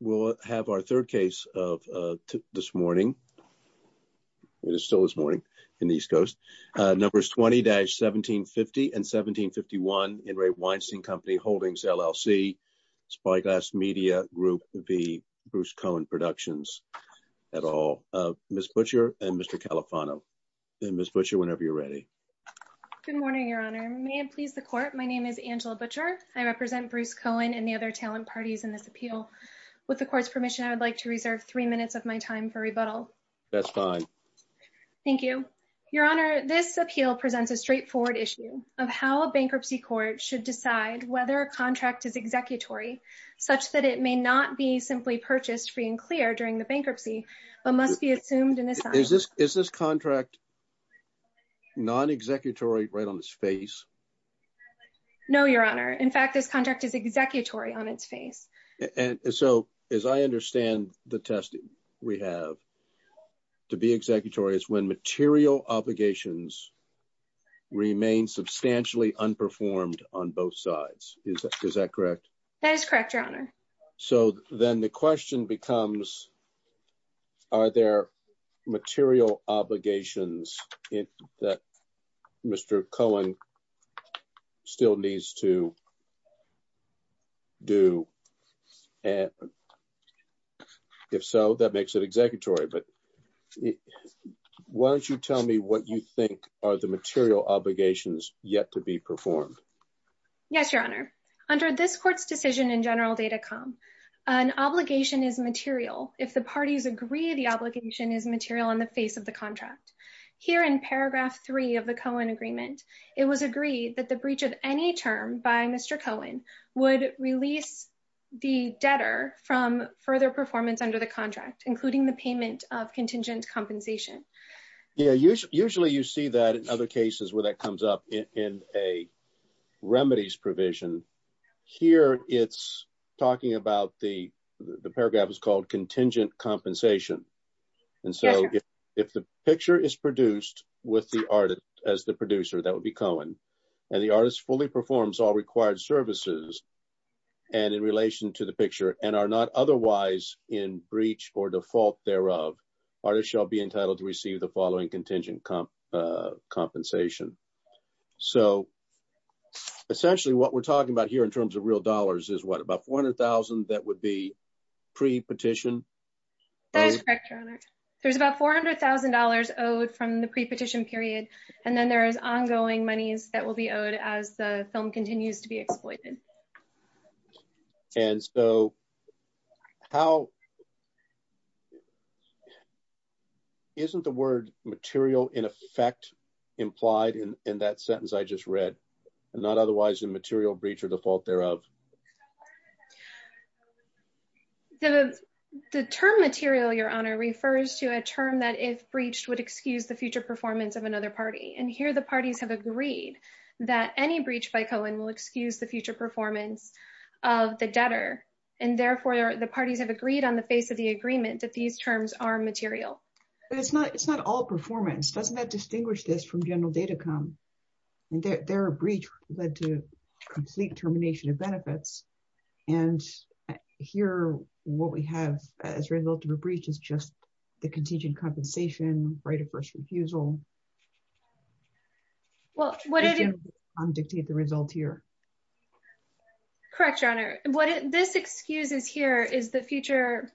We'll have our third case of this morning. It is still this morning in the East Coast. Numbers 20-1750 and 1751 In Re Weinstein Company Holdings, LLC, Spyglass Media Group v. Bruce Cohen Productions et al. Ms. Butcher and Mr. Califano. And Ms. Butcher, whenever you're ready. Good morning, Your Honor. May it please the court. My name is Angela Butcher. I represent Bruce Cohen and the other talent parties in With the court's permission, I would like to reserve three minutes of my time for rebuttal. That's fine. Thank you, Your Honor. This appeal presents a straightforward issue of how a bankruptcy court should decide whether a contract is executory, such that it may not be simply purchased free and clear during the bankruptcy, but must be assumed in a sign. Is this contract non-executory right on its face? No, Your Honor. In fact, this contract is executory on its face. And so as I understand the testing we have to be executory is when material obligations remain substantially unperformed on both sides. Is that correct? That is correct, Your Honor. So then the question becomes, are there material obligations that Mr. Cohen still needs to do? And if so, that makes it executory. But why don't you tell me what you think are the material obligations yet to be performed? Yes, Your Honor. Under this court's decision in General Data Com, an obligation is material if the parties agree the obligation is material on the face of the contract. Here in paragraph three of the Cohen agreement, it was agreed that the breach of any term by Mr. Cohen would release the debtor from further performance under the contract, including the payment of contingent compensation. Yeah, usually you see that in other cases where comes up in a remedies provision. Here it's talking about the paragraph is called contingent compensation. And so if the picture is produced with the artist as the producer, that would be Cohen, and the artist fully performs all required services and in relation to the picture and are not otherwise in breach or default thereof, artist shall be entitled to receive the following contingent compensation. So essentially, what we're talking about here in terms of real dollars is what about $400,000 that would be pre-petition? That's correct, Your Honor. There's about $400,000 owed from the pre-petition period. And then there is ongoing monies that will be owed as the film in effect, implied in that sentence I just read, not otherwise in material breach or default thereof. The term material, Your Honor, refers to a term that if breached would excuse the future performance of another party. And here the parties have agreed that any breach by Cohen will excuse the future performance of the debtor. And therefore the parties have agreed on the face of the agreement that these terms are material. But it's not all performance. Doesn't that distinguish this from General Datacom? Their breach led to complete termination of benefits. And here what we have as a result of a breach is just the contingent compensation, right of first refusal. Well, what did it dictate the result here? Correct, Your Honor. What this excuses here is the future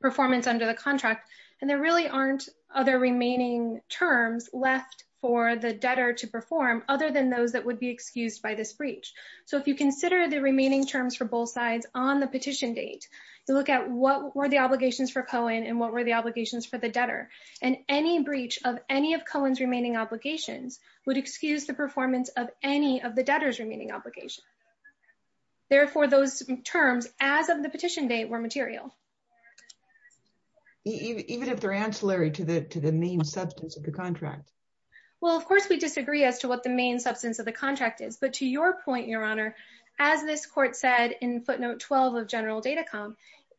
performance under the contract. And there really aren't other remaining terms left for the debtor to perform other than those that would be excused by this breach. So if you consider the remaining terms for both sides on the petition date, you look at what were the obligations for Cohen and what were the obligations for the debtor. And any breach of any of Cohen's remaining obligations would excuse the performance of any of the debtor's remaining obligation. Therefore, those terms as of the petition date were material. Even if they're ancillary to the main substance of the contract? Well, of course, we disagree as to what the main substance of the contract is. But to your point, Your Honor, as this court said in footnote 12 of General Datacom,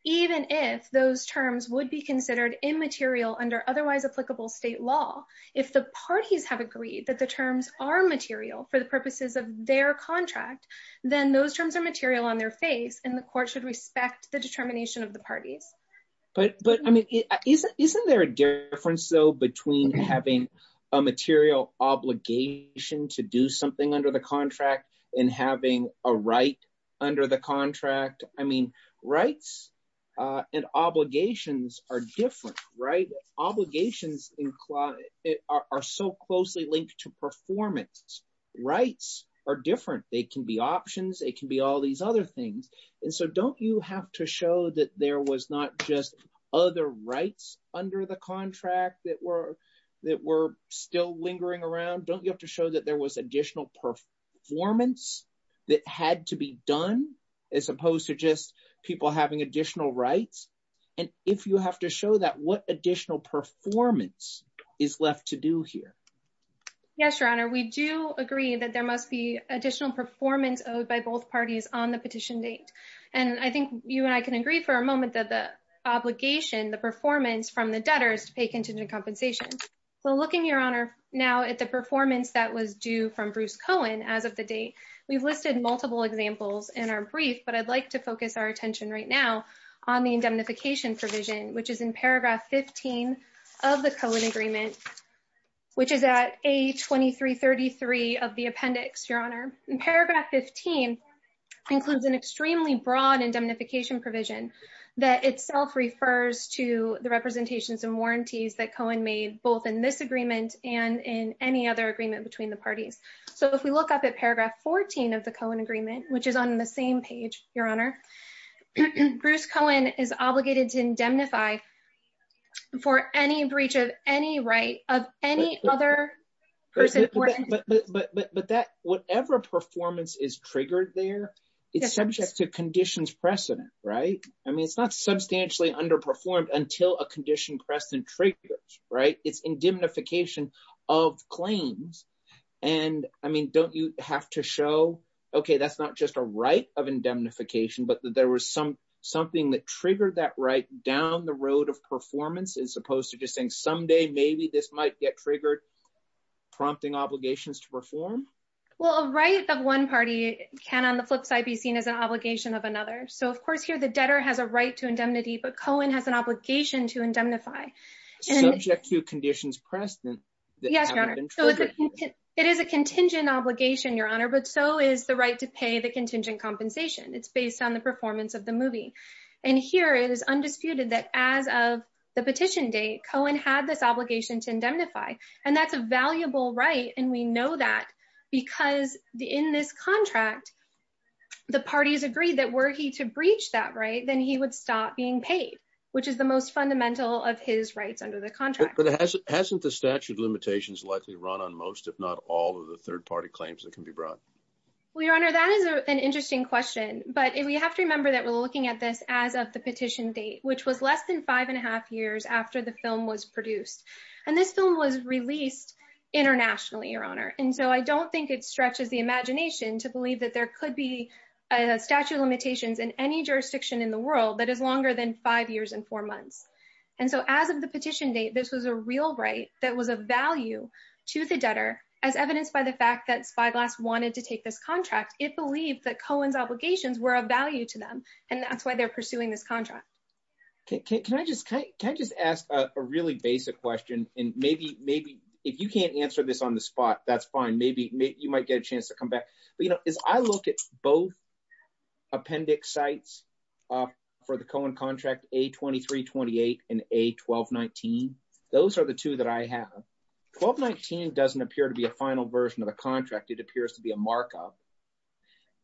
even if those terms would be considered immaterial under otherwise applicable state law, if the parties have agreed that the their contract, then those terms are material on their face, and the court should respect the determination of the parties. But but I mean, isn't isn't there a difference, though, between having a material obligation to do something under the contract and having a right under the contract? I mean, rights and obligations are different, right? Obligations are so closely linked to performance. Rights are different. They can be options, it can be all these other things. And so don't you have to show that there was not just other rights under the contract that were that were still lingering around? Don't you have to show that there was additional performance that had to be done, as opposed to just people having additional rights? And if you have to show that what additional performance is left to do here? Yes, Your Honor, we do agree that there must be additional performance owed by both parties on the petition date. And I think you and I can agree for a moment that the obligation the performance from the debtors to pay contingent compensation. So looking, Your Honor, now at the performance that was due from Bruce Cohen, as of the date, we've listed multiple examples in our brief, but I'd like to focus our attention right now on the indemnification provision, which is in paragraph 15 of the Cohen agreement, which is at a 2333 of the appendix, Your Honor, in paragraph 15, includes an extremely broad indemnification provision that itself refers to the representations and warranties that Cohen made both in this agreement and in any other agreement between the parties. So if we look up at paragraph 14 of the Cohen agreement, which is on the same page, Your Honor, Bruce Cohen is obligated to indemnify for any breach of any right of any other person. But that whatever performance is triggered there, it's subject to conditions precedent, right? I mean, it's not substantially underperformed until a condition precedent triggers, right? It's an indemnification of claims. And I mean, don't you have to show, okay, that's not just a right of indemnification, but there was some something that triggered that right down the road of performance as opposed to just saying, someday, maybe this might get triggered, prompting obligations to perform? Well, a right of one party can on the flip side be seen as an obligation of another. So of course, here, the debtor has a right to indemnity, but Cohen has an obligation to indemnify. Subject to conditions precedent. Yes, Your Honor. It is a contingent obligation, Your Honor, but so is the right to pay the contingent compensation. It's based on the performance of the movie. And here it is undisputed that as of the petition date, Cohen had this obligation to indemnify, and that's a valuable right. And we know that because in this contract, the parties agreed that were he to breach that right, then he would stop being paid, which is the most fundamental of his rights under the contract. But hasn't the statute limitations likely run on most, if not all of the third party claims that can be brought? Well, Your Honor, that is an interesting question. But we have to remember that we're looking at this as of the petition date, which was less than five and a half years after the film was produced. And this film was released internationally, Your Honor. And so I don't think it stretches the imagination to believe that there could be a statute of limitations in any jurisdiction in the world that is longer than five years and four months. And so as of the petition date, this was a real right that was a value to the debtor, as evidenced by the fact that Spyglass wanted to take this contract. It believed that Cohen's obligations were of value to them, and that's why they're pursuing this contract. Can I just ask a really basic question, and maybe if you can't answer this on the spot, that's fine. Maybe you might get a chance to come But, you know, as I look at both appendix sites for the Cohen contract, A2328 and A1219, those are the two that I have. A1219 doesn't appear to be a final version of the contract. It appears to be a markup.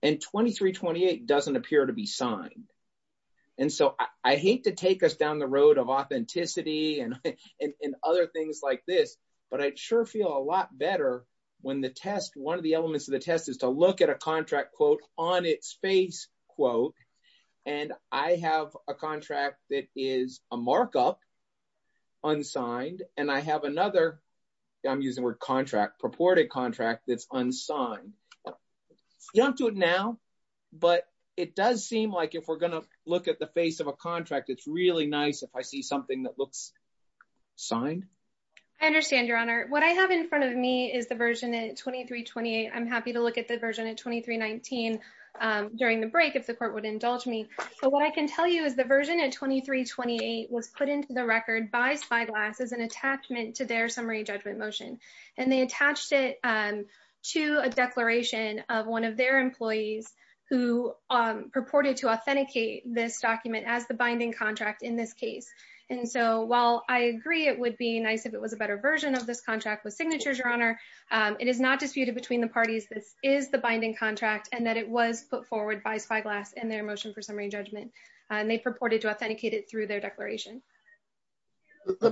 And A2328 doesn't appear to be signed. And so I hate to take us down the road of authenticity and other things like this, but I sure feel a lot better when one of the elements of the test is to look at a contract, quote, on its face, quote, and I have a contract that is a markup, unsigned, and I have another, I'm using the word contract, purported contract that's unsigned. You don't do it now, but it does seem like if we're going to look at the face of a contract, it's really nice if I see something that looks signed. I understand, Your Honor. What I have in front of me is the version A2328. I'm happy to look at the version A2319 during the break if the court would indulge me. So what I can tell you is the version A2328 was put into the record by Spyglass as an attachment to their summary judgment motion. And they attached it to a declaration of one of their employees who purported to authenticate this document as the binding contract in this case. And so while I agree it would be if it was a better version of this contract with signatures, Your Honor, it is not disputed between the parties. This is the binding contract and that it was put forward by Spyglass in their motion for summary judgment. And they purported to authenticate it through their declaration. Let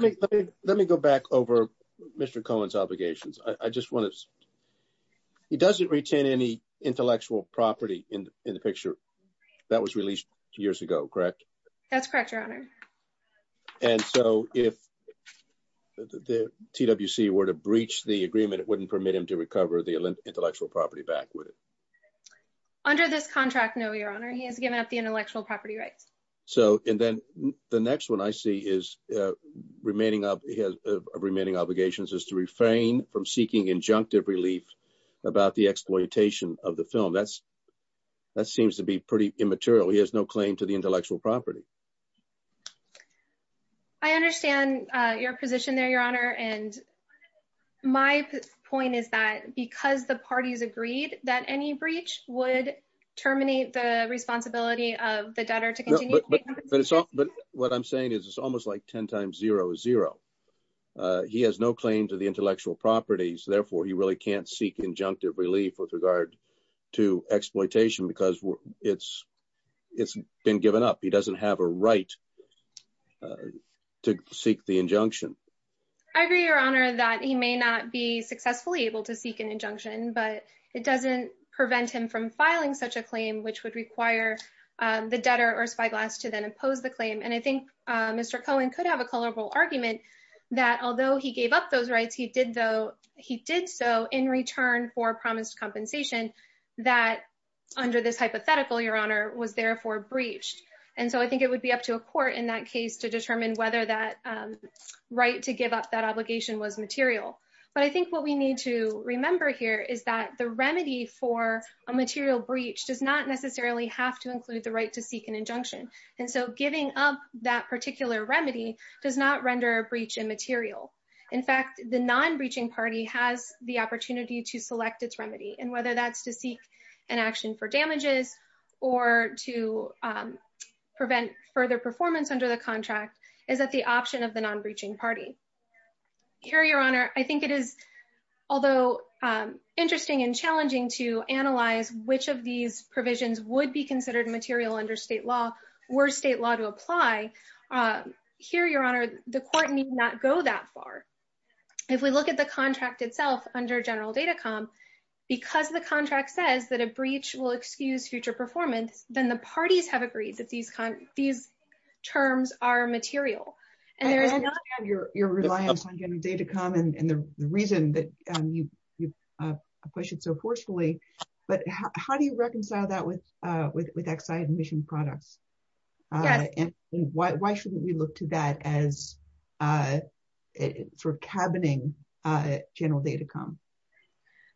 me go back over Mr. Cohen's obligations. I just want to, he doesn't retain any intellectual property in the picture that was released years ago, correct? That's correct, Your Honor. And so if the TWC were to breach the agreement, it wouldn't permit him to recover the intellectual property back, would it? Under this contract, no, Your Honor. He has given up the intellectual property rights. So, and then the next one I see is remaining up, he has remaining obligations is to refrain from seeking injunctive relief about the exploitation of the film. That's, that seems to be pretty immaterial. He has no claim to the intellectual property. I understand your position there, Your Honor. And my point is that because the parties agreed that any breach would terminate the responsibility of the debtor to continue. But what I'm saying is it's almost like 10 times 0 is 0. He has no claim to the intellectual properties. Therefore, he really can't seek injunctive relief with regard to exploitation because it's been given up. He doesn't have a right to seek the injunction. I agree, Your Honor, that he may not be successfully able to seek an injunction, but it doesn't prevent him from filing such a claim, which would require the debtor or spyglass to then impose the claim. And I think Mr. Cohen could have a colorable argument that although he gave up rights, he did so in return for promised compensation that under this hypothetical, Your Honor, was therefore breached. And so I think it would be up to a court in that case to determine whether that right to give up that obligation was material. But I think what we need to remember here is that the remedy for a material breach does not necessarily have to include the right to seek an injunction. And so giving up that particular remedy does not render a breach immaterial. In fact, the non-breaching party has the opportunity to select its remedy. And whether that's to seek an action for damages or to prevent further performance under the contract is at the option of the non-breaching party. Here, Your Honor, I think it is, although interesting and challenging to analyze which of these provisions would be considered material under state law or state law to apply. Here, Your Honor, the court need not go that far. If we look at the contract itself under General Datacom, because the contract says that a breach will excuse future performance, then the parties have agreed that these terms are material. And there is not your reliance on General Datacom and the reason that you questioned so forcefully. But how do you reconcile that with Exide emission products? And why shouldn't we look to that as for cabining General Datacom?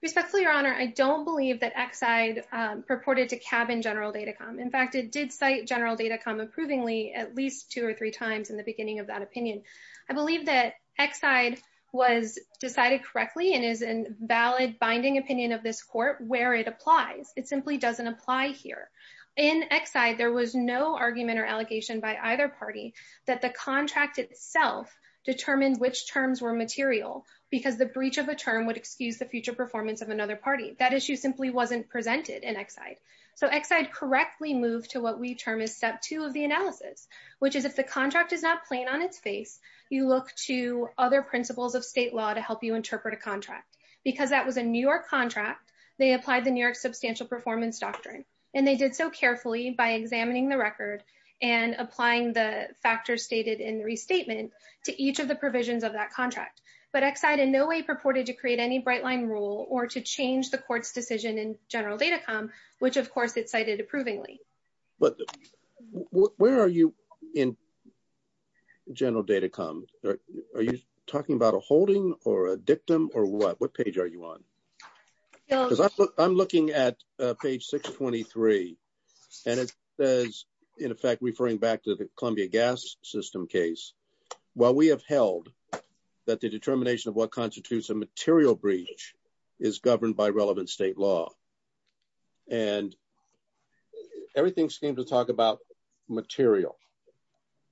Respectfully, Your Honor, I don't believe that Exide purported to cabin General Datacom. In fact, it did cite General Datacom approvingly at least two or three times in the beginning of that opinion. I believe that Exide was decided correctly and is valid binding opinion of this court where it applies. It simply doesn't apply here. In Exide, there was no argument or allegation by either party that the contract itself determined which terms were material because the breach of a term would excuse the future performance of another party. That issue simply wasn't presented in Exide. So Exide correctly moved to what we term is step two of the analysis, which is if the contract is not plain on its face, you look to other principles of state law to help you interpret a contract. Because that was a New York contract, they applied the New York substantial performance doctrine. And they did so carefully by examining the record and applying the factors stated in the restatement to each of the provisions of that contract. But Exide in no way purported to create any bright line rule or to change the court's decision in General Datacom, which of course it cited approvingly. But where are you in General Datacom? Are you talking about a holding or a dictum or what? What page are you on? Because I'm looking at page 623. And it says, in effect, referring back to the Columbia gas system case, while we have held that the determination of what constitutes a material breach is governed by relevant state law. And everything seems to talk about material.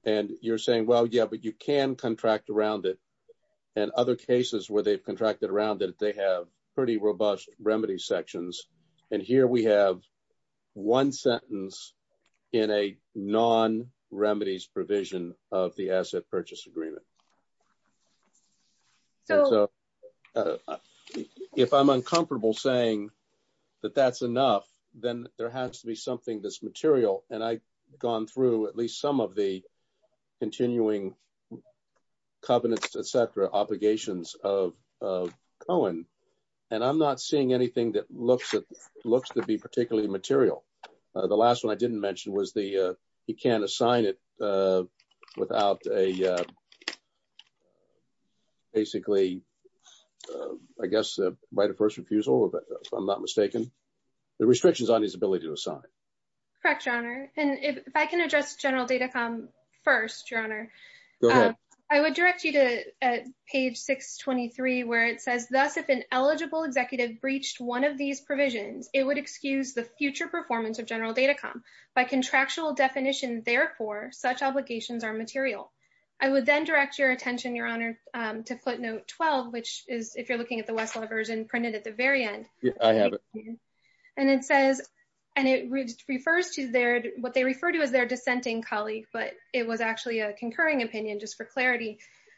And you're saying, well, yeah, but you can contract around it. And other cases where they've contracted around it, they have pretty robust remedy sections. And here we have one sentence in a non remedies provision of the asset purchase agreement. So if I'm uncomfortable saying that that's enough, then there has to be something that's material. And I gone through at least some of the continuing covenants, etc, obligations of Cohen. And I'm not seeing anything that looks at looks to be particularly material. The last one I didn't mention was the he can't assign it without a basically, I guess, by the first refusal, but if I'm not mistaken, the restrictions on his ability to assign. Correct, your honor. And if I can address general data come first, your honor, I would direct you to page 623, where it says, Thus, if an eligible executive breached one of these provisions, it would excuse the future performance of general data come by contractual definition. Therefore, such obligations are material. I would then direct your attention, your honor, to footnote 12, which is if you're looking at the West lovers and printed at the very end, I have it. And it says, and it refers to their what they refer to as their dissenting colleague, but it was actually a concurring opinion, just for clarity.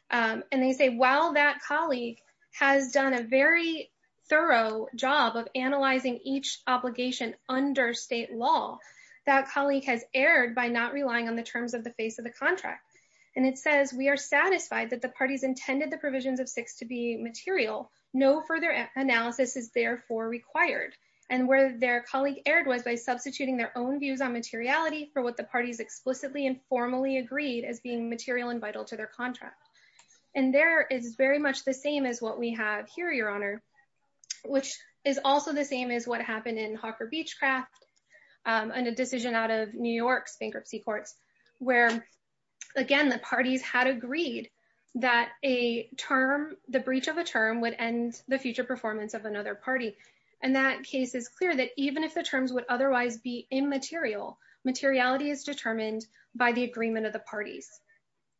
And they say, while that colleague has done a very thorough job of analyzing each obligation under state law, that colleague has erred by not relying on the terms of the face of the contract. And it says we are satisfied that the parties intended the provisions of six to be material, no further analysis is therefore required. And where their colleague erred was by substituting their own views on materiality for what the parties explicitly and formally agreed as being material and vital to their contract. And there is very much the same as what we have here, your honor, which is also the same as what happened in Hawker Beechcraft and a decision out of New York's performance of another party. And that case is clear that even if the terms would otherwise be immaterial, materiality is determined by the agreement of the parties.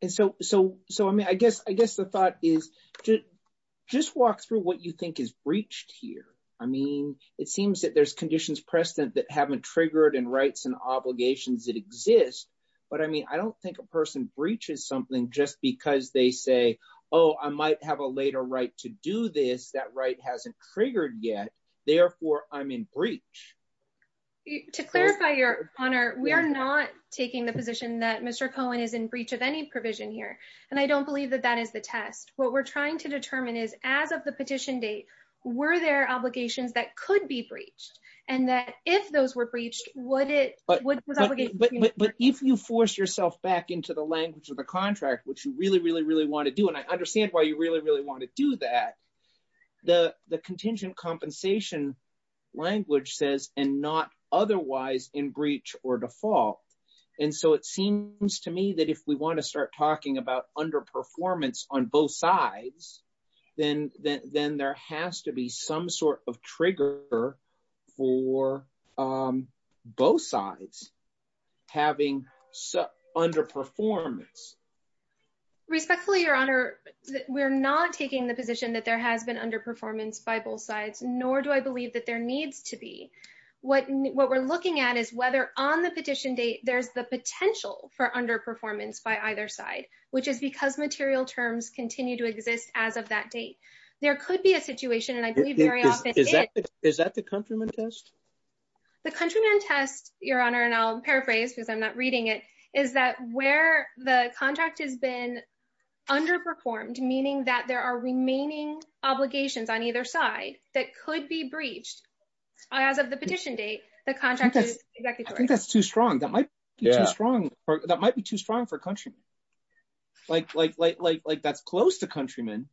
And so, so, so, I mean, I guess, I guess the thought is to just walk through what you think is breached here. I mean, it seems that there's conditions precedent that haven't triggered and rights and obligations that exist. But I mean, I don't think a person breaches something just because they say, oh, I might have a later right to do this. That right hasn't triggered yet. Therefore, I'm in breach. To clarify your honor, we are not taking the position that Mr. Cohen is in breach of any provision here. And I don't believe that that is the test. What we're trying to determine is as of the petition date, were there obligations that could be breached? And that if those were breached, would it? But if you force yourself back into the language of the contract, which you really, really, really want to do, and I understand why you really, really want to do that. The contingent compensation language says, and not otherwise in breach or default. And so it seems to me that if we want to start talking about underperformance on both sides, then there has to be some sort of trigger for both sides having underperformance. Respectfully, your honor, we're not taking the position that there has been underperformance by both sides, nor do I believe that there needs to be. What we're looking at is whether on the petition date, there's the potential for underperformance by either side, which is because material terms continue to exist. As of that date, there could be a situation. And I believe very often is that the countryman test, the countryman test, your honor, and I'll paraphrase because I'm not reading it, is that where the contract has been underperformed, meaning that there are remaining obligations on either side that could be breached. As of the petition date, the contract, I think that's too strong. That might be too strong. That might be too strong for country. Like, like, like, like, like, that's close to countrymen.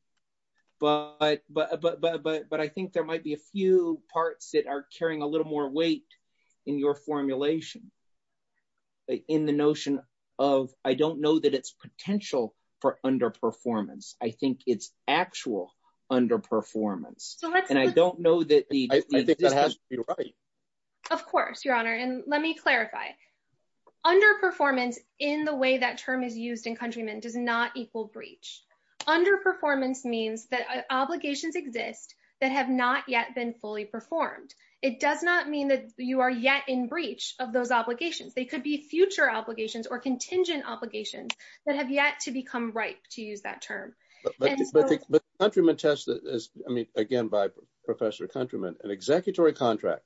But, but, but, but, but, but I think there might be a few parts that are carrying a little more weight in your formulation, in the notion of, I don't know that it's potential for underperformance. I think it's actual underperformance. And I don't know that the, I think that has to be right. Of course, your honor. And let me clarify. Underperformance in the way that term is used in countrymen does not equal breach. Underperformance means that obligations exist that have not yet been fully performed. It does not mean that you are yet in breach of those obligations. They could be future obligations or contingent obligations that have yet to become ripe to use that term. But the countryman test is, I mean, again, by Professor countryman, an executory contract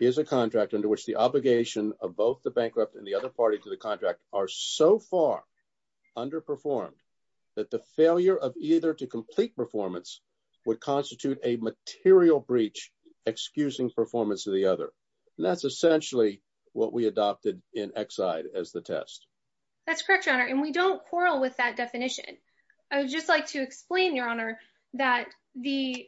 is a contract under which the obligation of both the bankrupt and the other party to the contract are so far underperformed that the failure of either to complete performance would constitute a material breach, excusing performance of the other. And that's essentially what we adopted in Exide as the test. That's correct, your honor. And we don't quarrel with that definition. I would just like to explain your honor that the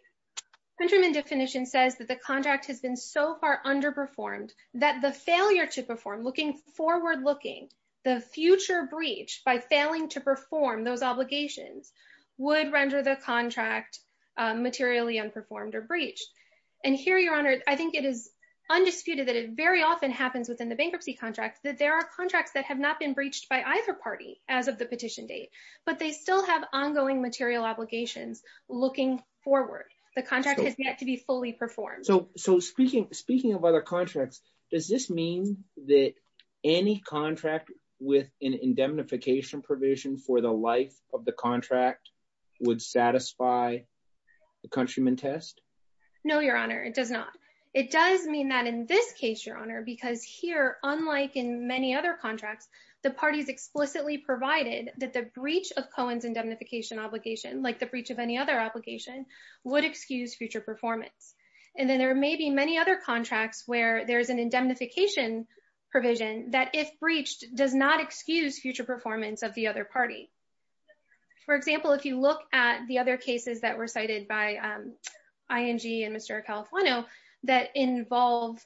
countryman definition says that the contract has been so far under performed that the failure to perform looking forward, looking the future breach by failing to perform those obligations would render the contract materially unperformed or breached. And here, your honor, I think it is undisputed that it very often happens within the bankruptcy contract that there are contracts that have not been breached by either party as of the petition date, but they still have ongoing material obligations looking forward. The contract has yet to be fully performed. So speaking of other contracts, does this mean that any contract with an indemnification provision for the life of the contract would satisfy the countryman test? No, your honor, it does not. It does mean that in this case, your honor, because here, unlike in many other contracts, the parties explicitly provided that the breach of Cohen's indemnification obligation, like the breach of any other obligation would excuse future performance. And then there may be many other contracts where there's an indemnification provision that if breached does not excuse future performance of the other party. For example, if you look at the other cases that were cited by ING and Mr. Califueno that involve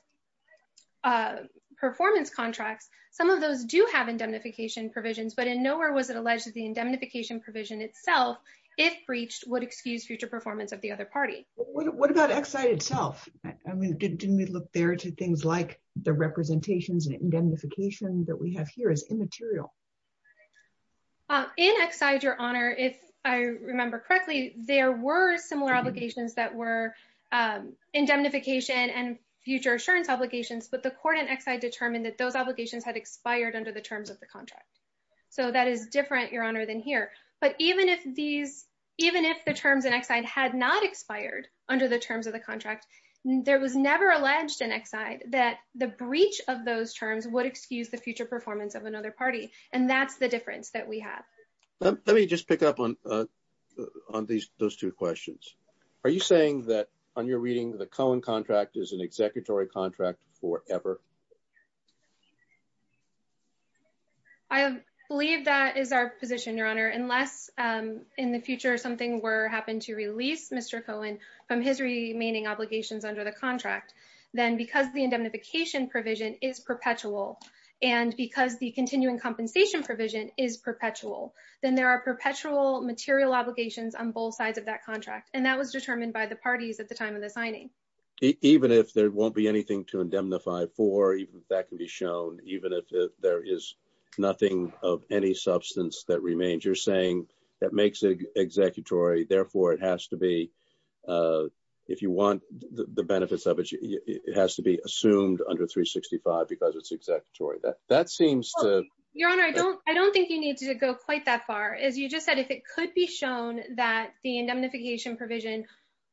performance contracts, some of those do have indemnification provisions, but in nowhere was it alleged that the indemnification provision itself, if breached, would excuse future performance of the other party. What about Exide itself? I mean, didn't we look there to things like the representations and indemnification that we have here is immaterial. In Exide, your honor, if I remember correctly, there were similar obligations that were indemnification and future assurance obligations, but the court in Exide determined that those obligations had expired under the terms of the contract. So that is different, your honor, than here. But even if these, even if the terms in Exide had not expired under the terms of the breach of those terms would excuse the future performance of another party, and that's the difference that we have. Let me just pick up on those two questions. Are you saying that on your reading, the Cohen contract is an executory contract forever? I believe that is our position, your honor, unless in the future something were happened to release Mr. Cohen from his remaining obligations under the contract, then because the indemnification provision is perpetual, and because the continuing compensation provision is perpetual, then there are perpetual material obligations on both sides of that contract. And that was determined by the parties at the time of the signing. Even if there won't be anything to indemnify for, even if that can be shown, even if there is nothing of any substance that remains, you're saying that makes it executory. Therefore, it has to be, if you want the benefits of it, it has to be assumed under 365 because it's executory. That seems to. Your honor, I don't, I don't think you need to go quite that far. As you just said, if it could be shown that the indemnification provision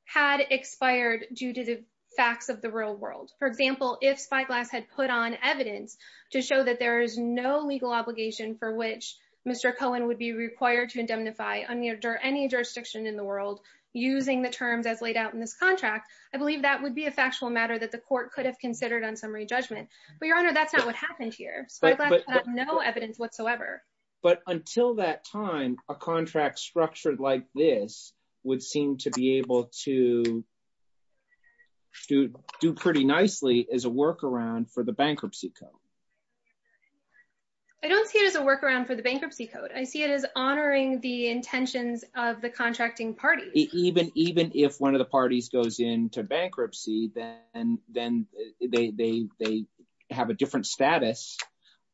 had expired due to the facts of the real world, for example, if spyglass had put on evidence to show that there is no legal obligation for which Mr. Cohen would be required to indemnify under any jurisdiction in the world, using the terms as laid out in this contract, I believe that would be a factual matter that the court could have considered on summary judgment. But your honor, that's not what happened here. So I've got no evidence whatsoever. But until that time, a contract structured like this would seem to be able to do pretty nicely as a workaround for the bankruptcy code. I don't see it as a workaround for the bankruptcy code. I see it as honoring the even even if one of the parties goes into bankruptcy, then then they they have a different status,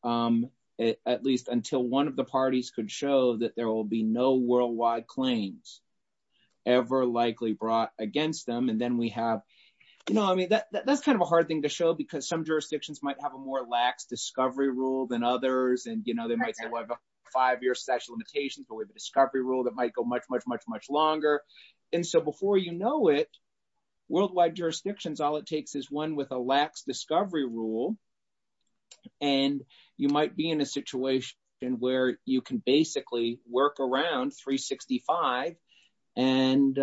at least until one of the parties could show that there will be no worldwide claims ever likely brought against them. And then we have, you know, I mean, that's kind of a hard thing to show, because some jurisdictions might have a more lax discovery rule than others. And, you know, they might say, well, five year statute of limitations, but with a discovery rule that might go much, much, much, much longer. And so before you know it, worldwide jurisdictions, all it takes is one with a lax discovery rule. And you might be in a situation where you can basically work around 365. And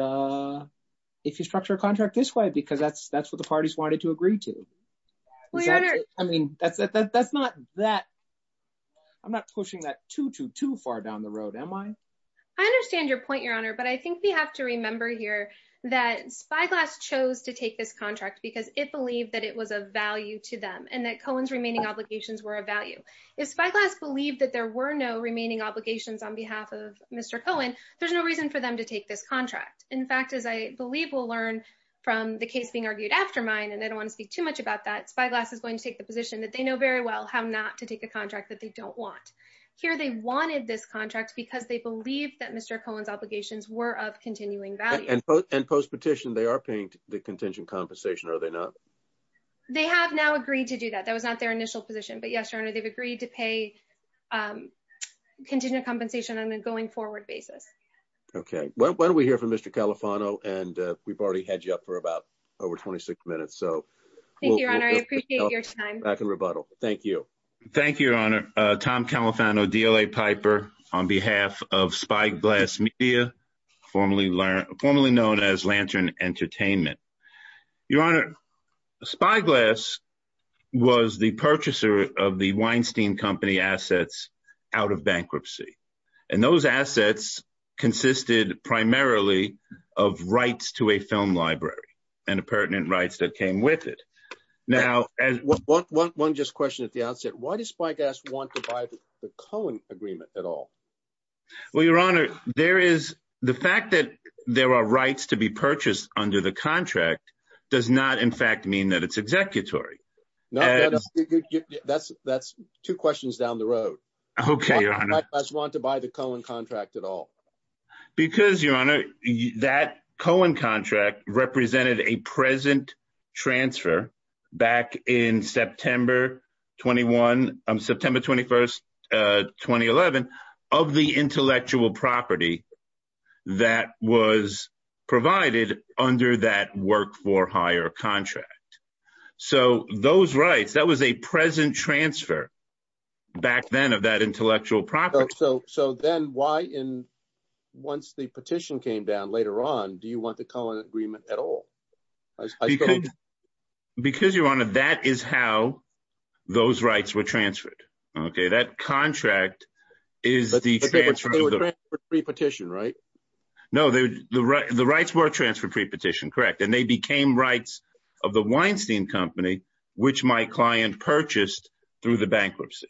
if you structure a contract this way, because that's that's what the parties wanted to agree to. I mean, that's, that's not that. I'm not pushing that too, too far down the road, am I? I understand your point, Your Honor. But I think we have to remember here that Spyglass chose to take this contract because it believed that it was a value to them and that Cohen's remaining obligations were a value. If Spyglass believed that there were no remaining obligations on behalf of Mr. Cohen, there's no reason for them to take this contract. In fact, as I believe we'll learn from the case being argued after mine, and I don't want to speak too much about that, Spyglass is going to take the position that they know very well how not to take a contract that they don't want. Here they wanted this contract because they believe that Mr. Cohen's obligations were of continuing value. And post-petition, they are paying the contingent compensation, are they not? They have now agreed to do that. That was not their initial position. But yes, Your Honor, they've agreed to pay contingent compensation on a going forward basis. Okay. Why don't we hear from Mr. Califano? And we've already had you up for about over 26 minutes. Thank you, Your Honor. I appreciate your time. Back in rebuttal. Thank you. Thank you, Your Honor. Tom Califano, DLA Piper, on behalf of Spyglass Media, formerly known as Lantern Entertainment. Your Honor, Spyglass was the purchaser of the Weinstein Company assets out of bankruptcy. And those assets consisted primarily of rights to a film library and the pertinent rights that came with it. One just question at the outset, why does Spyglass want to buy the Cohen agreement at all? Well, Your Honor, the fact that there are rights to be purchased under the contract does not in fact mean that it's executory. That's two questions down the road. Why does Spyglass want to buy the Cohen contract at all? Because, Your Honor, that Cohen contract represented a present transfer back in September 21, September 21, 2011, of the intellectual property that was provided under that work for hire contract. So those rights, that was a present transfer back then of that intellectual property. So then why, once the petition came down later on, do you want the Cohen agreement at all? Because, Your Honor, that is how those rights were transferred, okay? That contract is the transfer of the- But they were transferred pre-petition, right? No, the rights were transferred pre-petition, correct. And they became rights of the Weinstein Company, which my client purchased through the bankruptcy.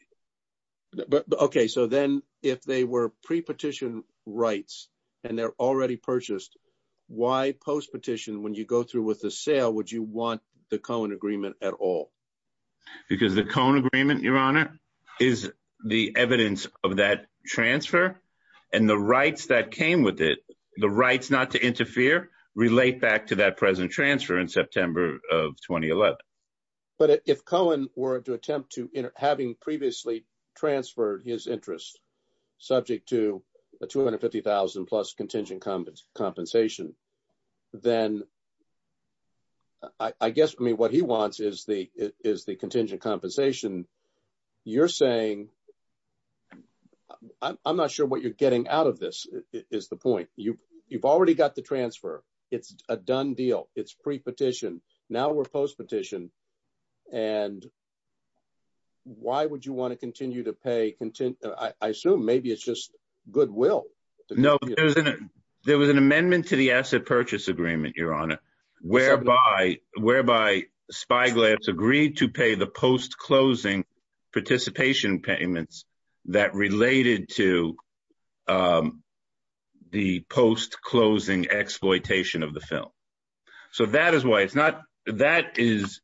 Okay, so then if they were pre-petition rights and they're already purchased, why post-petition, when you go through with the sale, would you want the Cohen agreement at all? Because the Cohen agreement, Your Honor, is the evidence of that transfer and the rights that But if Cohen were to attempt to, having previously transferred his interest, subject to a $250,000 plus contingent compensation, then I guess, I mean, what he wants is the contingent compensation. You're saying, I'm not sure what you're getting out of this, is the point. You've already got the transfer. It's a done deal. It's pre-petition. Now we're post-petition. And why would you want to continue to pay contingent? I assume, maybe it's just goodwill. No, there was an amendment to the asset purchase agreement, Your Honor, whereby Spyglass agreed to pay the post-closing participation payments that related to the post-closing exploitation of the film. So that is why it's not, that is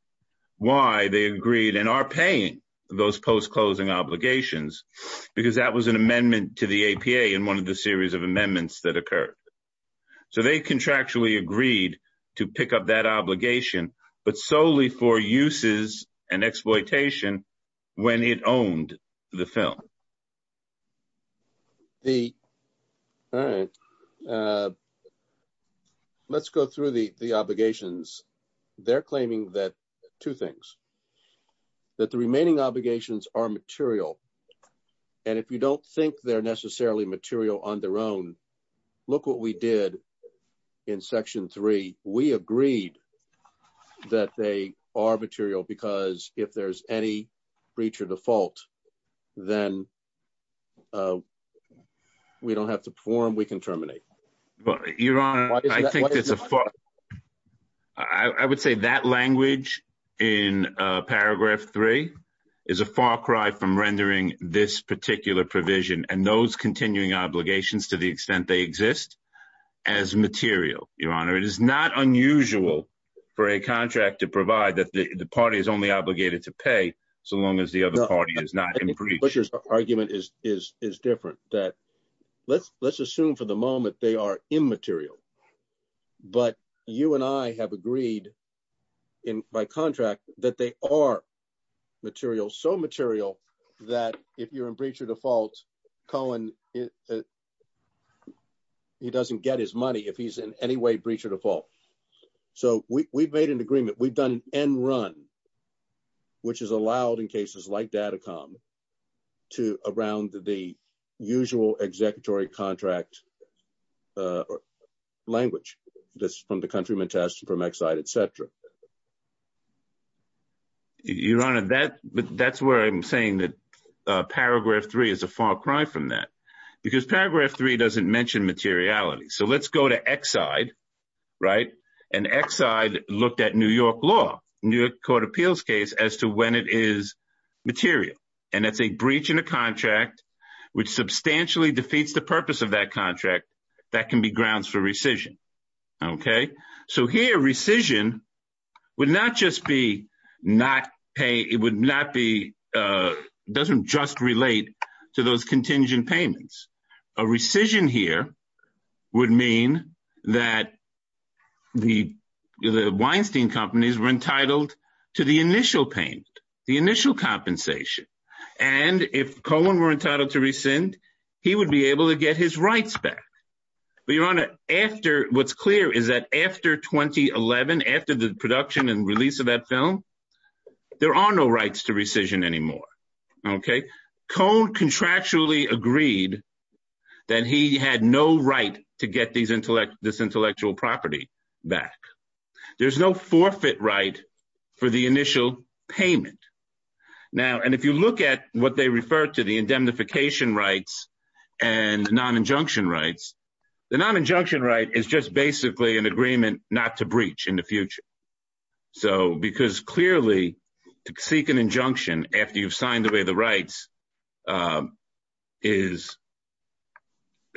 why they agreed and are paying those post-closing obligations, because that was an amendment to the APA in one of the series of amendments that occurred. So they contractually agreed to pick up that obligation, but solely for uses and exploitation when it owned the film. All right. Let's go through the obligations. They're claiming that, two things, that the remaining obligations are material. And if you don't think they're necessarily material on their own, look what we did in section three. We agreed that they are material because if there's any breach or default, then we don't have to perform, we can terminate. But Your Honor, I think it's a far, I would say that language in paragraph three is a far cry from rendering this particular provision and those continuing obligations to the extent they exist as material, Your Honor. It is not unusual for a contract to provide that the party is only obligated to pay so long as the other party is not in breach. I think the Butcher's argument is different, that let's assume for the moment they are immaterial, but you and I have agreed by contract that they are material, so material that if you're in breach or default, Cohen, he doesn't get his money if he's in any way in breach or default. So we've made an agreement, we've done an end run, which is allowed in cases like Datacom to around the usual executory contract language, this from the countryman test from Exide, et cetera. Your Honor, that's where I'm saying that paragraph three is a far cry from that, because paragraph three doesn't mention materiality. So let's go to Exide, right? And Exide looked at New York law, New York court appeals case as to when it is material. And that's a breach in a contract which substantially defeats the purpose of that contract that can be grounds for rescission. Okay? So here rescission would not just be not pay, it would not be, doesn't just relate to those contingent payments. A rescission here would mean that the Weinstein companies were entitled to the initial payment, the initial compensation. And if Cohen were entitled to rescind, he would be able to get his rights back. But Your Honor, after, what's clear is that after 2011, after the production and release of that film, there are no rights to rescission anymore. Okay? Cohen contractually agreed that he had no right to get this intellectual property back. There's no forfeit right for the initial payment. Now, and if you look at what they refer to the indemnification rights and non-injunction rights, the non-injunction right is just basically an agreement not to breach in the future. So, because clearly to seek an injunction after you've signed away the rights is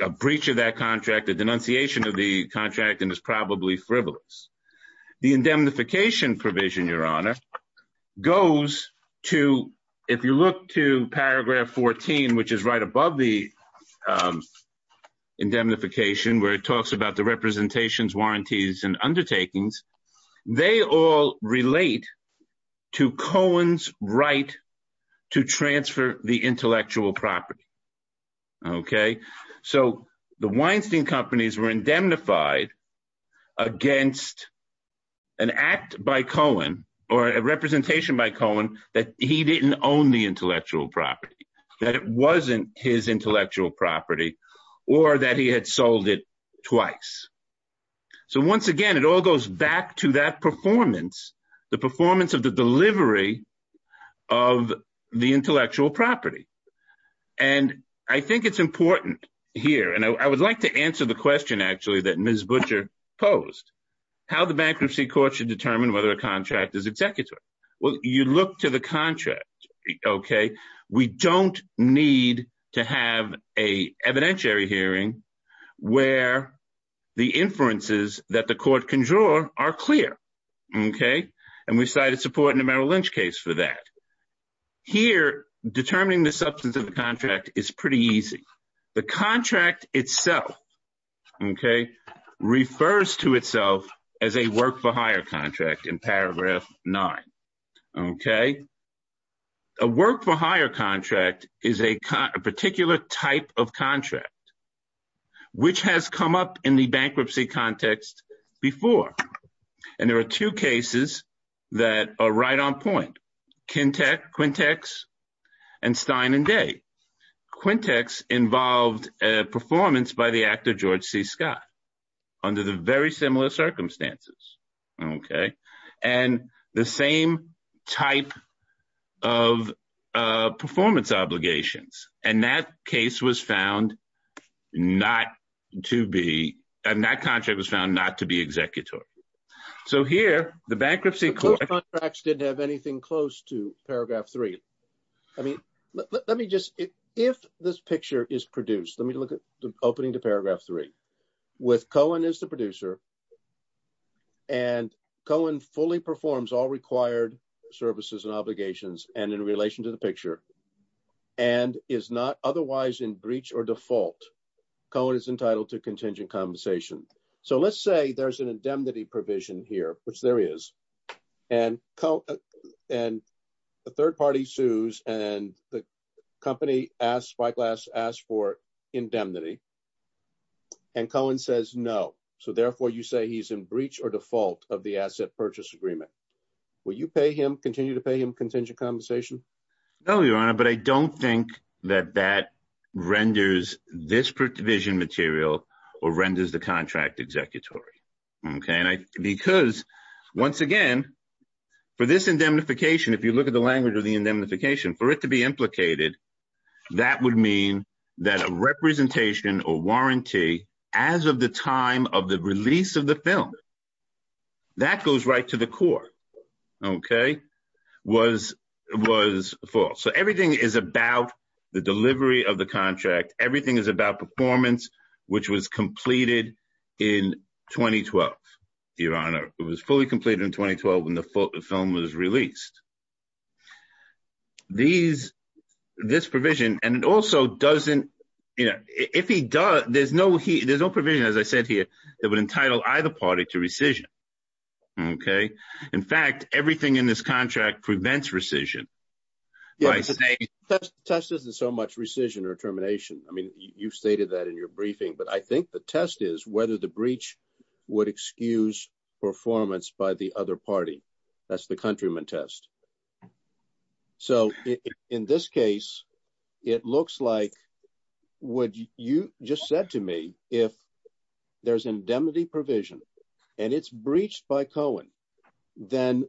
a breach of that contract, a denunciation of the contract, and is probably frivolous. The indemnification provision, Your Honor, goes to, if you look to paragraph 14, which is right above the indemnification, where it talks about the representations, warranties, and undertakings, they all relate to Cohen's right to transfer the intellectual property. Okay? So, the Weinstein companies were indemnified against an act by Cohen, or a representation by Cohen, that he didn't own the intellectual property, that it wasn't his intellectual property, or that he had sold it twice. So, once again, it all goes back to that performance, the performance of the delivery of the intellectual property. And I think it's important here, and I would like to answer the question, actually, that Ms. Butcher posed, how the Bankruptcy Court should determine whether a contract is need to have an evidentiary hearing where the inferences that the court can draw are clear. Okay? And we cited support in the Merrill Lynch case for that. Here, determining the substance of the contract is pretty easy. The contract itself, okay, refers to itself as a work-for-hire contract, is a particular type of contract, which has come up in the bankruptcy context before. And there are two cases that are right on point, Quintex and Stein and Day. Quintex involved a performance by the actor George C. Scott, under the very similar circumstances. Okay? And the same type of performance obligations. And that case was found not to be, and that contract was found not to be executor. So here, the Bankruptcy Court... Those contracts didn't have anything close to Paragraph 3. I mean, let me just, if this picture is produced, let me look at opening to Paragraph 3. With Cohen as the producer, and Cohen fully performs all required services and obligations, and in relation to the picture, and is not otherwise in breach or default, Cohen is entitled to contingent compensation. So let's say there's an indemnity provision here, which there is. And the third party sues, and the company asks for indemnity. And Cohen says no. So therefore, you say he's in breach or default of the asset purchase agreement. Will you pay him, continue to pay him contingent compensation? No, Your Honor, but I don't think that that renders this provision material, or renders the contract executory. Because once again, for this indemnification, if you look at the language of the indemnification, for it to be implicated, that would mean that a representation or warranty, as of the time of the release of the film, that goes right to the core, was false. So everything is about the delivery of the contract. Everything is about performance, which was completed in 2012, Your Honor. It was fully completed in 2012 when the film was released. This provision, and it also doesn't, you know, if he does, there's no provision, as I said here, that would entitle either party to rescission. Okay? In fact, everything in this contract prevents rescission. Test isn't so much rescission or termination. I mean, you've stated that in your briefing, but I think the test is whether the breach would excuse performance by the other party. That's the countryman test. So in this case, it looks like what you just said to me, if there's indemnity provision and it's breached by Cohen, then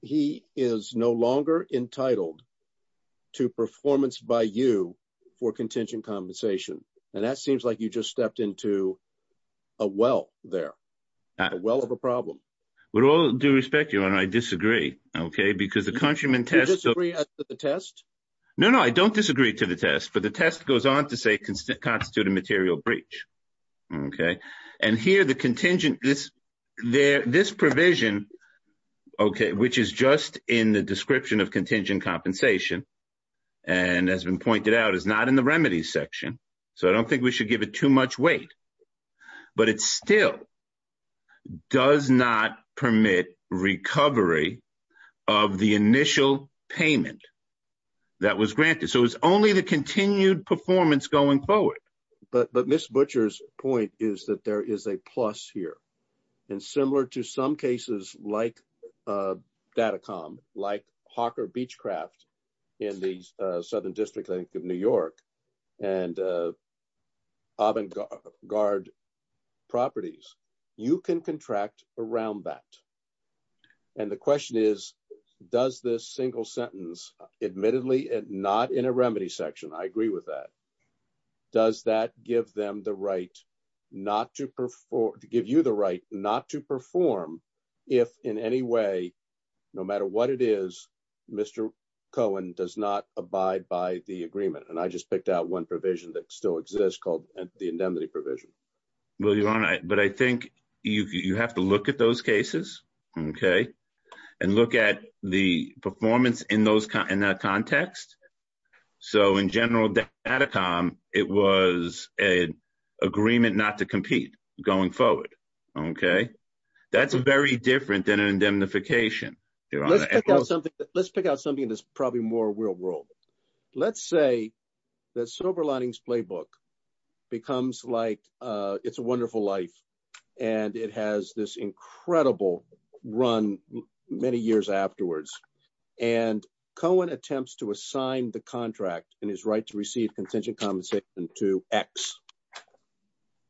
he is no longer entitled to performance by you for contingent compensation. And that seems like you just stepped into a well there, a well of a problem. With all due respect, Your Honor, I disagree. Okay? Because the countryman test... You disagree with the test? No, no, I don't disagree to the test, but the test goes on to say constitute a material breach. Okay? And here the contingent, this provision, okay, which is just in the description of contingent compensation, and has been pointed out, is not in the remedies section. So I don't think we should give it too much weight. But it still does not permit recovery of the initial payment that was granted. So it's only the continued performance going forward. But Ms. Butcher's point is that there is a plus here. And similar to some cases like Datacom, like Hawker Beachcraft in the Southern District, I think, of New York, and Avangard Properties, you can contract around that. And the question is, does this single sentence, admittedly, not in a remedy section, I agree with that, does that give them the right not to perform, give you the right not to perform, if in any way, no matter what it is, Mr. Cohen does not abide by the agreement? And I just picked out one provision that still exists called the indemnity provision. Well, Your Honor, but I think you have to look at cases and look at the performance in that context. So in general, Datacom, it was an agreement not to compete going forward. That's very different than an indemnification. Let's pick out something that's probably more real world. Let's say that Silver Linings Playbook becomes like It's a Wonderful Life. And it has this incredible run many years afterwards. And Cohen attempts to assign the contract and his right to receive contingent compensation to X.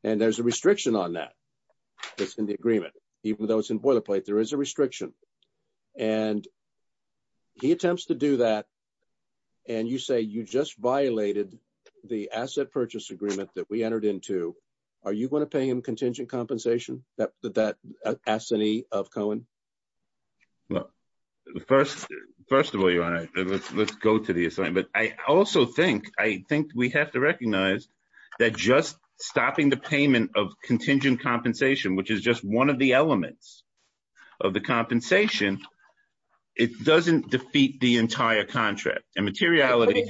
And there's a restriction on that. It's in the agreement. Even though it's in boilerplate, there is a restriction. And he attempts to do that. And you say you just violated the asset purchase agreement that we entered into. Are you going to pay him contingent compensation that that assignee of Cohen? Well, first of all, Your Honor, let's go to the assignment. I also think I think we have to recognize that just stopping the payment of contingent compensation, which is just one of the elements of the compensation, it doesn't defeat the entire contract and materiality.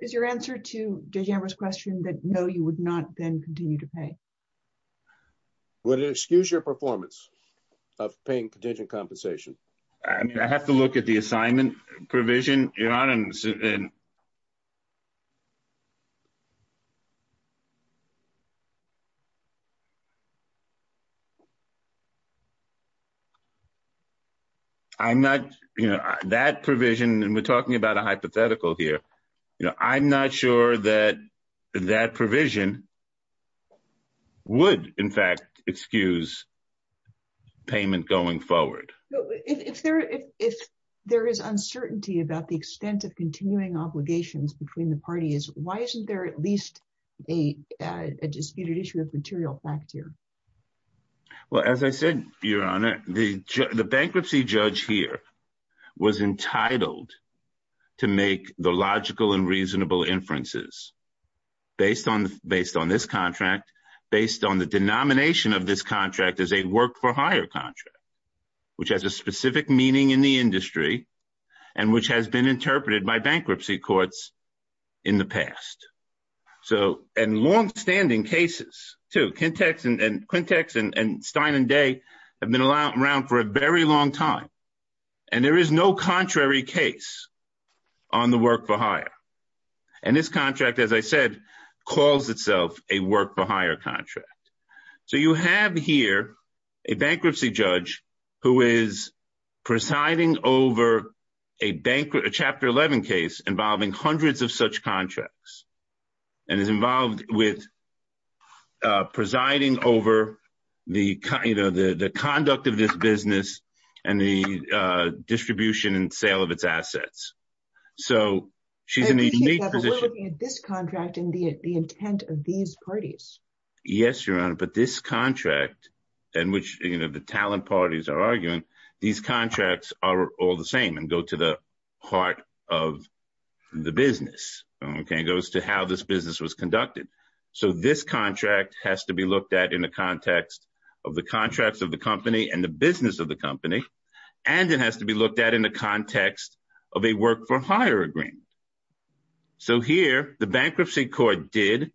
Is your answer to DeGembro's question that no, you would not then continue to pay? Would it excuse your performance of paying contingent compensation? I have to look at the assignment provision, Your Honor. And I'm not, you know, that provision, and we're talking about a hypothetical here. I'm not sure that that provision would, in fact, excuse payment going forward. If there is uncertainty about the extent of continuing obligations between the parties, why isn't there at least a disputed issue of material fact here? Well, as I said, Your Honor, the bankruptcy judge here was entitled to make the logical and reasonable inferences based on this contract, based on the denomination of this contract as a work-for-hire contract, which has a specific meaning in the industry, and which has been interpreted by bankruptcy courts in the past. So, and longstanding cases, too, Quintex and Stein and Day have been around for a very long time, and there is no contrary case on the work-for-hire. And this contract, as I said, calls itself a work-for-hire contract. So, you have here a bankruptcy judge who is presiding over a Chapter 11 case involving hundreds of such contracts, and is involved with presiding over the conduct of this business and the distribution and sale of its assets. So, she's in a unique position. But we're looking at this contract and the intent of these parties. Yes, Your Honor, but this contract in which, you know, the talent parties are arguing, these contracts are all the same and go to the heart of the business, okay? It goes to how this business was conducted. So, this contract has to be looked at in the context of the contracts of the company and the business of the company, and it has to be looked at in the context of a work-for-hire agreement. So, here, the bankruptcy court did,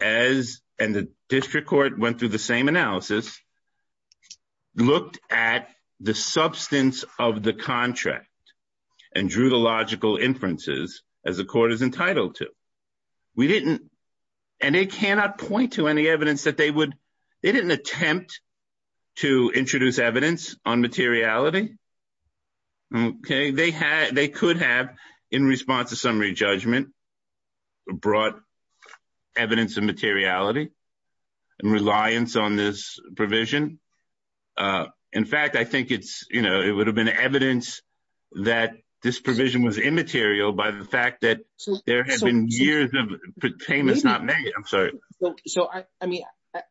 and the district court went through the same analysis, looked at the substance of the contract and drew the logical inferences, as the court is entitled to. We didn't, and they cannot point to any evidence that they would, they didn't attempt to introduce evidence on materiality, okay? They could have, in response to summary judgment, brought evidence of materiality and reliance on this provision. In fact, I think it's, you know, it would have been evidence that this provision was immaterial by the fact that there have been years of payments not made, I'm sorry. So, I mean,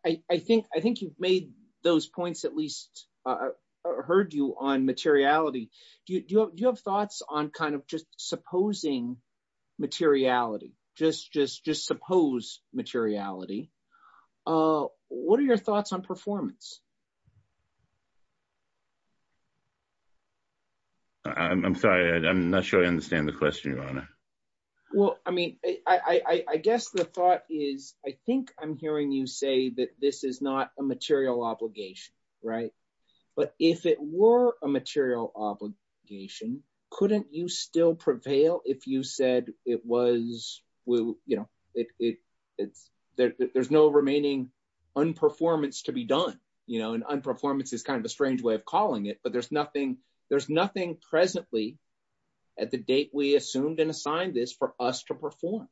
I think you've made those points, at least heard you on materiality. Do you have thoughts on kind of just supposing materiality, just suppose materiality? What are your thoughts on performance? I'm sorry, I'm not sure I understand the question, your honor. Well, I mean, I guess the thought is, I think I'm hearing you say that this is not a material obligation, right? But if it were a material obligation, couldn't you still prevail if you said it was, you know, there's no remaining unperformance to be done, you know? And unperformance is kind of a strange way of calling it, but there's nothing presently at the date we assumed and assigned this for us to perform.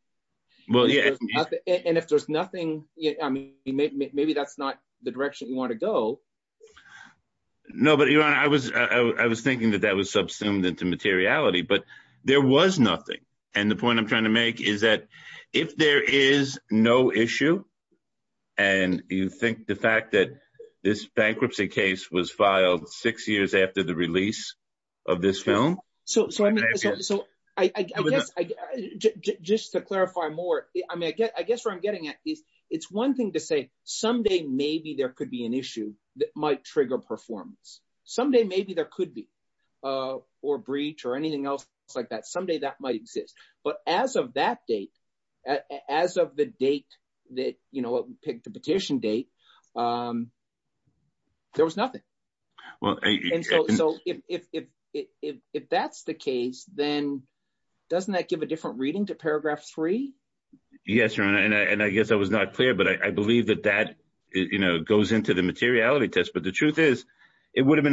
And if there's nothing, I mean, maybe that's not the direction you want to go. No, but your honor, I was thinking that that subsumed into materiality, but there was nothing. And the point I'm trying to make is that if there is no issue, and you think the fact that this bankruptcy case was filed six years after the release of this film. So, I guess, just to clarify more, I mean, I guess where I'm getting at is it's one thing to say someday maybe there could be an issue that might trigger performance. Someday maybe there could be, or breach, or anything else like that. Someday that might exist. But as of that date, as of the date that, you know, the petition date, there was nothing. Well, so if that's the case, then doesn't that give a different reading to paragraph three? Yes, your honor, and I guess I was not clear, but I believe that that, you know, goes into the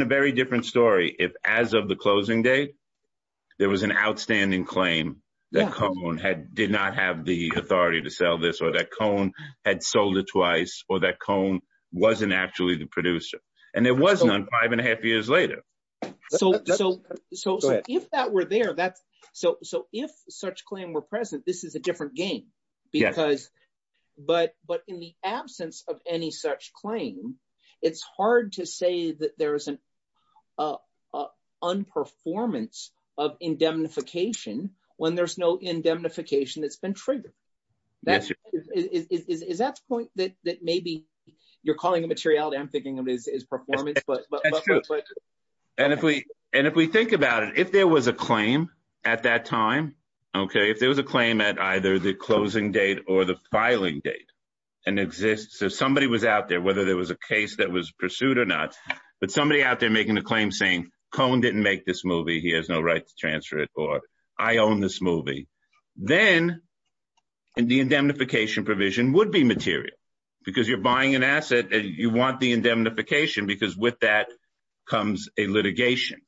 very different story. If as of the closing date, there was an outstanding claim that Cone had, did not have the authority to sell this, or that Cone had sold it twice, or that Cone wasn't actually the producer. And there was none five and a half years later. So, if that were there, that's, so if such claim were present, this is a different game. Because, but in the absence of any such claim, it's hard to say that there is an unperformance of indemnification when there's no indemnification that's been triggered. Is that the point that maybe you're calling a materiality? I'm thinking of it as performance. And if we think about it, if there was a claim at that time, okay, if there was a claim at either the closing date or the filing date, and exists, if somebody was out there, whether there was a case that was pursued or not, but somebody out there making a claim saying, Cone didn't make this movie, he has no right to transfer it, or I own this movie, then the indemnification provision would be material. Because you're buying an asset, and you want the indemnification, because with that comes a litigation.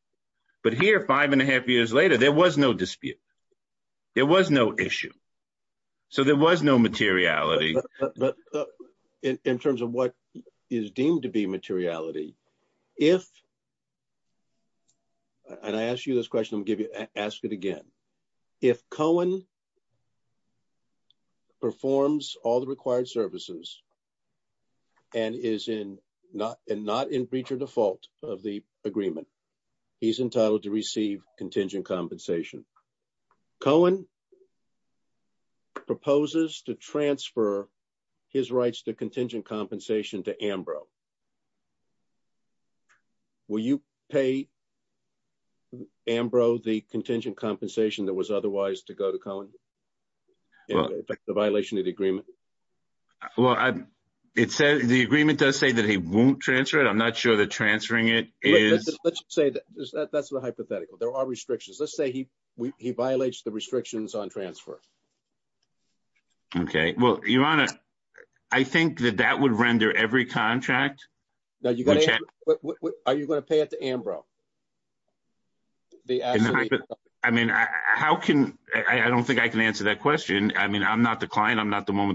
But here, five and a half years later, there was no dispute. There was no issue. So there was no materiality. But in terms of what is deemed to be materiality, if, and I ask you this question, I'm going to ask it again. If Cone performs all the required services, and is not in breach or default of the agreement, he's entitled to receive contingent compensation. Cone proposes to transfer his rights to contingent compensation to AMBRO. Will you pay AMBRO the contingent compensation that was otherwise to go to Cone, in effect, a violation of the agreement? Well, the agreement does say that he won't transfer it. I'm not sure that transferring it is... Let's say that that's a hypothetical. There are restrictions. Let's say he violates the restrictions on transfer. Okay. Well, Your Honor, I think that that would render every contract... Are you going to pay it to AMBRO? I mean, how can... I don't think I can answer that question. I mean, I'm not the client. I'm not sure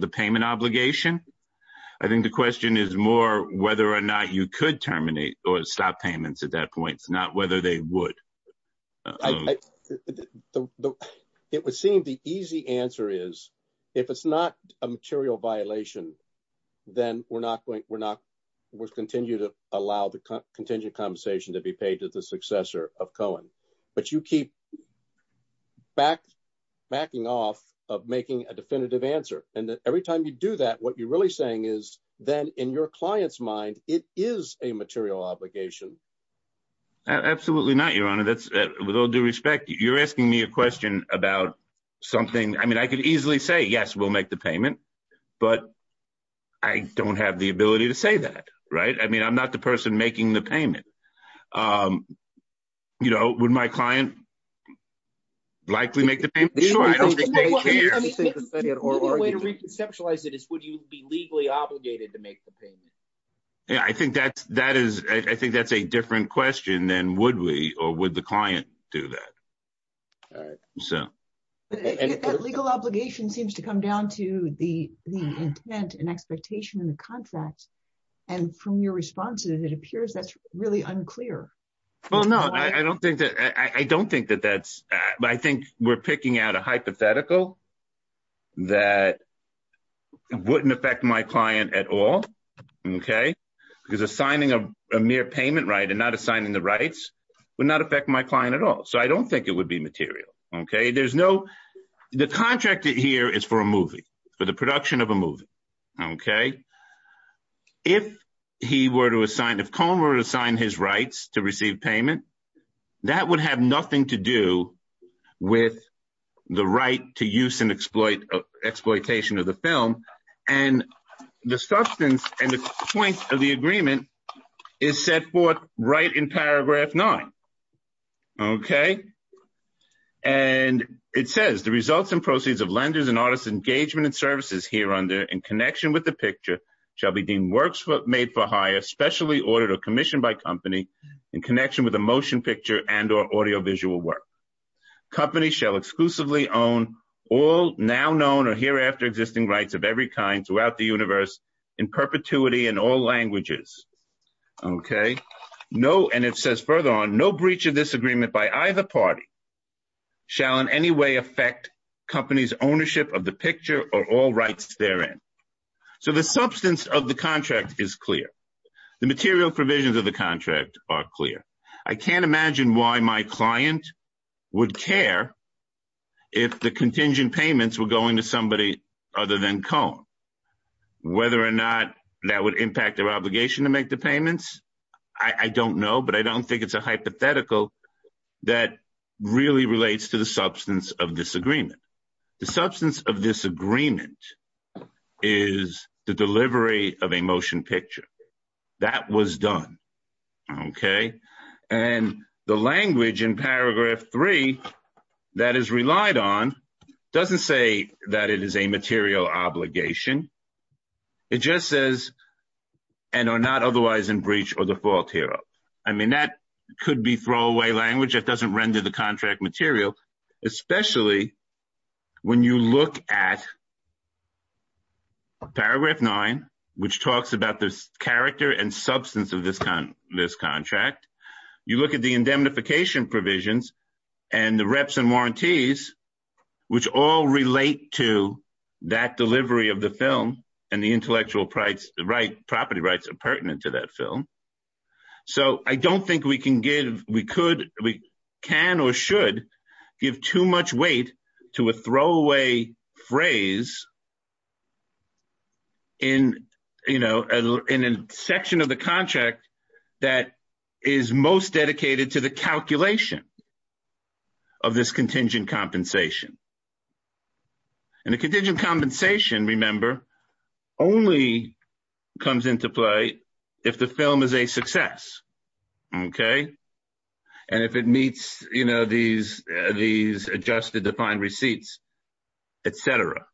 that you could terminate or stop payments at that point, not whether they would. It would seem the easy answer is, if it's not a material violation, then we're not going... We'll continue to allow the contingent compensation to be paid to the successor of Cone. But you keep backing off of making a definitive answer. And every time you do that, what you're really saying is that in your client's mind, it is a material obligation. Absolutely not, Your Honor. With all due respect, you're asking me a question about something... I mean, I could easily say, yes, we'll make the payment, but I don't have the ability to say that, right? I mean, I'm not the person making the payment. Would my client likely make the payment? Sure, I don't think they care. I mean, the only way to reconceptualize it is, would you be legally obligated to make the payment? Yeah, I think that's a different question than, would we or would the client do that? All right. So... Legal obligation seems to come down to the intent and expectation in the contract. And from your responses, it appears that's really unclear. Well, no, I don't think that that's... I think we're picking out a hypothetical that wouldn't affect my client at all, okay? Because assigning a mere payment right and not assigning the rights would not affect my client at all. So I don't think it would be material, okay? There's no... The contract here is for a movie, for the production of a movie, okay? If he were to assign, if Cone were to assign his rights to receive payment, that would have nothing to do with the right to use and exploitation of the film. And the substance and the point of the agreement is set forth right in paragraph nine, okay? And it says, the results and proceeds of lenders and artists' engagement and services here under in connection with the picture shall be deemed works made for hire, specially ordered or commissioned by company in connection with a motion picture and or audiovisual work. Companies shall exclusively own all now known or hereafter existing rights of every kind throughout the universe in perpetuity in all languages, okay? No... And it says further on, no breach of this agreement by either party shall in any way affect company's ownership of the picture or all rights therein. So the substance of the contract is clear. The material provisions of the contract are clear. I can't imagine why my client would care if the contingent payments were going to somebody other than Cone. Whether or not that would impact their obligation to make the payments, I don't know, but I don't think it's a hypothetical that really relates to the substance of this agreement. The substance of this agreement is the delivery of a motion picture. That was done, okay? And the language in paragraph three that is relied on doesn't say that it is a material obligation. It just says, and are not otherwise in breach or default here. I mean, that could be throwaway language that doesn't render the contract material, especially when you look at paragraph nine, which talks about the character and substance of this contract. You look at the film and the intellectual property rights are pertinent to that film. So I don't think we can give, we could, we can or should give too much weight to a throwaway phrase in a section of the contract that is most dedicated to the calculation of this contingent compensation. And the contingent compensation, remember, only comes into play if the film is a success, okay? And if it meets, you know, these adjusted defined receipts, et cetera.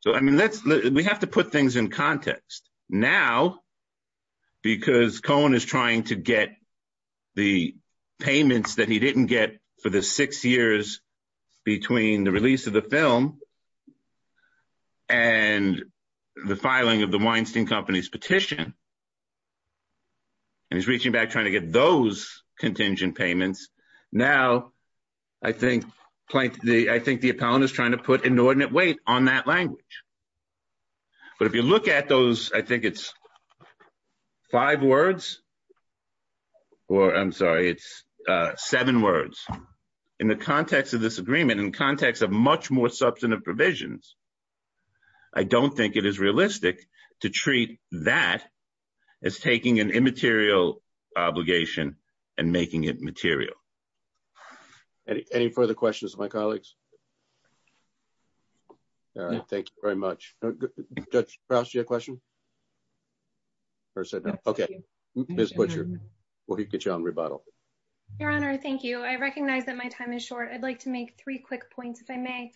So, I mean, let's, we have to put things in context. Now, because payments that he didn't get for the six years between the release of the film and the filing of the Weinstein Company's petition, and he's reaching back trying to get those contingent payments. Now, I think the appellant is trying to put inordinate weight on that language. But if you look at those, I think it's five words, or I'm sorry, it's seven words. In the context of this agreement, in context of much more substantive provisions, I don't think it is realistic to treat that as taking an immaterial obligation and making it material. Any further questions of my colleagues? All right. Thank you very much. Judge, did you have a question? Or said no. Okay. Ms. Butcher, we'll get you on rebuttal. Your Honor, thank you. I recognize that my time is short. I'd like to make three quick points, if I may.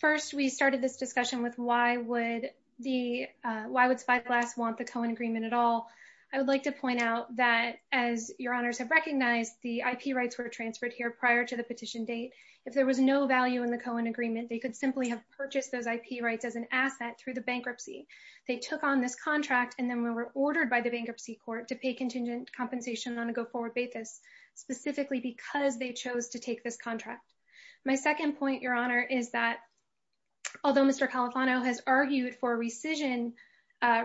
First, we started this discussion with why would the, why would Spyglass want the Cohen agreement at all? I would like to point out that as Your Honors have recognized, the IP rights were transferred here prior to the petition date. If there was no value in the Cohen agreement, they could simply have purchased those IP rights as an asset through the bankruptcy. They took on this contract, and then we were ordered by the bankruptcy court to pay contingent compensation on a go-forward basis, specifically because they chose to take this contract. My second point, Your Honor, is that although Mr. Califano has argued for a rescission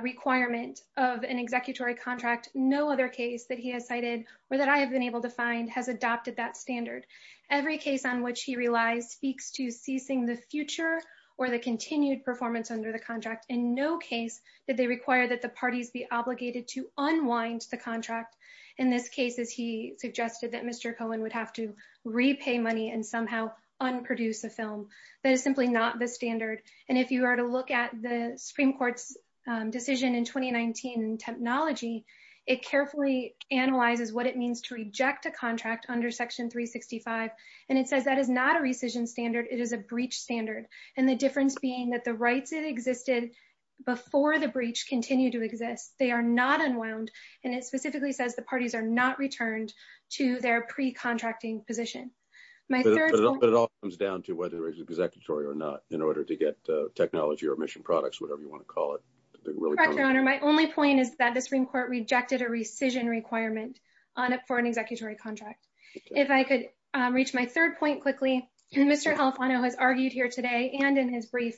requirement of an executory contract, no other case that he has cited or that I have been able to find has adopted that standard. Every case on which he relies speaks to ceasing the future or the continued performance under the contract. In no case did they require that the parties be obligated to unwind the contract. In this case, as he suggested, that Mr. Cohen would have to repay money and somehow unproduce a film. That is simply not the standard. And if you were to look at the Supreme Court's decision in 2019 in technology, it carefully analyzes what it means to reject a contract under Section 365, and it says that is not a rescission standard, it is a breach standard, and the difference being that the rights that existed before the breach continue to exist. They are not unwound, and it specifically says the parties are not returned to their pre-contracting position. But it all comes down to whether it's executory or not, in order to get technology or mission products, whatever you want to call it. My only point is that the Supreme Court's decision does not require an executory contract. If I could reach my third point quickly, Mr. Califano has argued here today, and in his brief,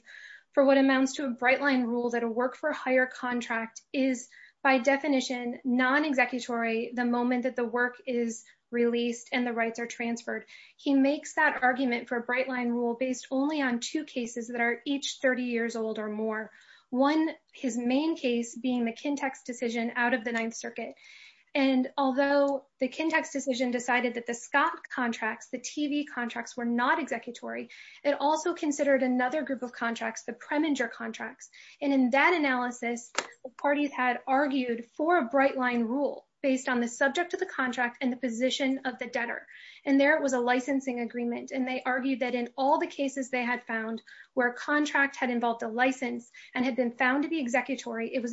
for what amounts to a bright-line rule that a work-for-hire contract is by definition non-executory the moment that the work is released and the rights are transferred. He makes that argument for a bright-line rule based only on two cases that are each 30 years old or more. One, his main case, being the Kintex decision out of the Ninth Circuit. And although the Kintex decision decided that the Scott contracts, the TV contracts, were not executory, it also considered another group of contracts, the Preminger contracts. And in that analysis, the parties had argued for a bright-line rule based on the subject of the contract and the position of the debtor. And there it was a licensing agreement, and they argued that in all the cases they had found where a contract had involved a license and had been found to be non-executory. And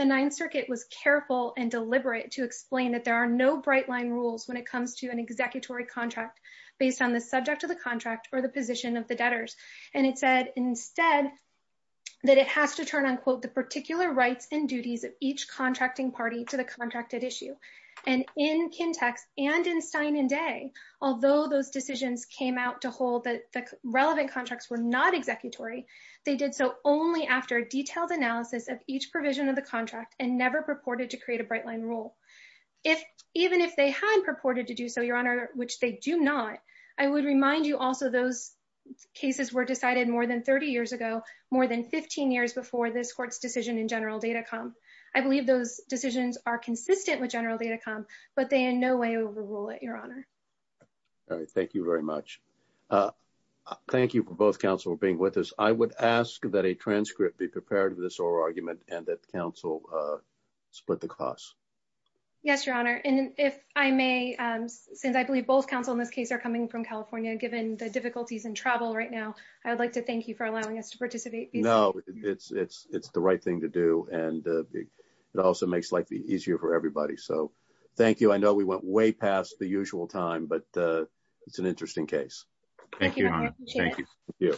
the Ninth Circuit was careful and deliberate to explain that there are no bright-line rules when it comes to an executory contract based on the subject of the contract or the position of the debtors. And it said instead that it has to turn on quote the particular rights and duties of each contracting party to the contracted issue. And in Kintex and in Stein and Day, although those decisions came out to hold that the relevant contracts were not executory, they did so only after a detailed analysis of each provision of the contract and never purported to create a bright-line rule. If even if they had purported to do so, Your Honor, which they do not, I would remind you also those cases were decided more than 30 years ago, more than 15 years before this court's decision in General Data Com. I believe those decisions are consistent with General Data Com, but they in no way overrule it, Your Honor. All right, thank you very much. Thank you for both counsel for being with us. I would ask that a transcript be prepared of this oral argument and that counsel split the costs. Yes, Your Honor, and if I may, since I believe both counsel in this case are coming from California, given the difficulties in travel right now, I would like to thank you for allowing us to participate. No, it's the right thing to do and it also makes life easier for everybody, so thank you. I know we went way past the usual time, but it's an interesting case. Thank you, Your Honor. Thank you.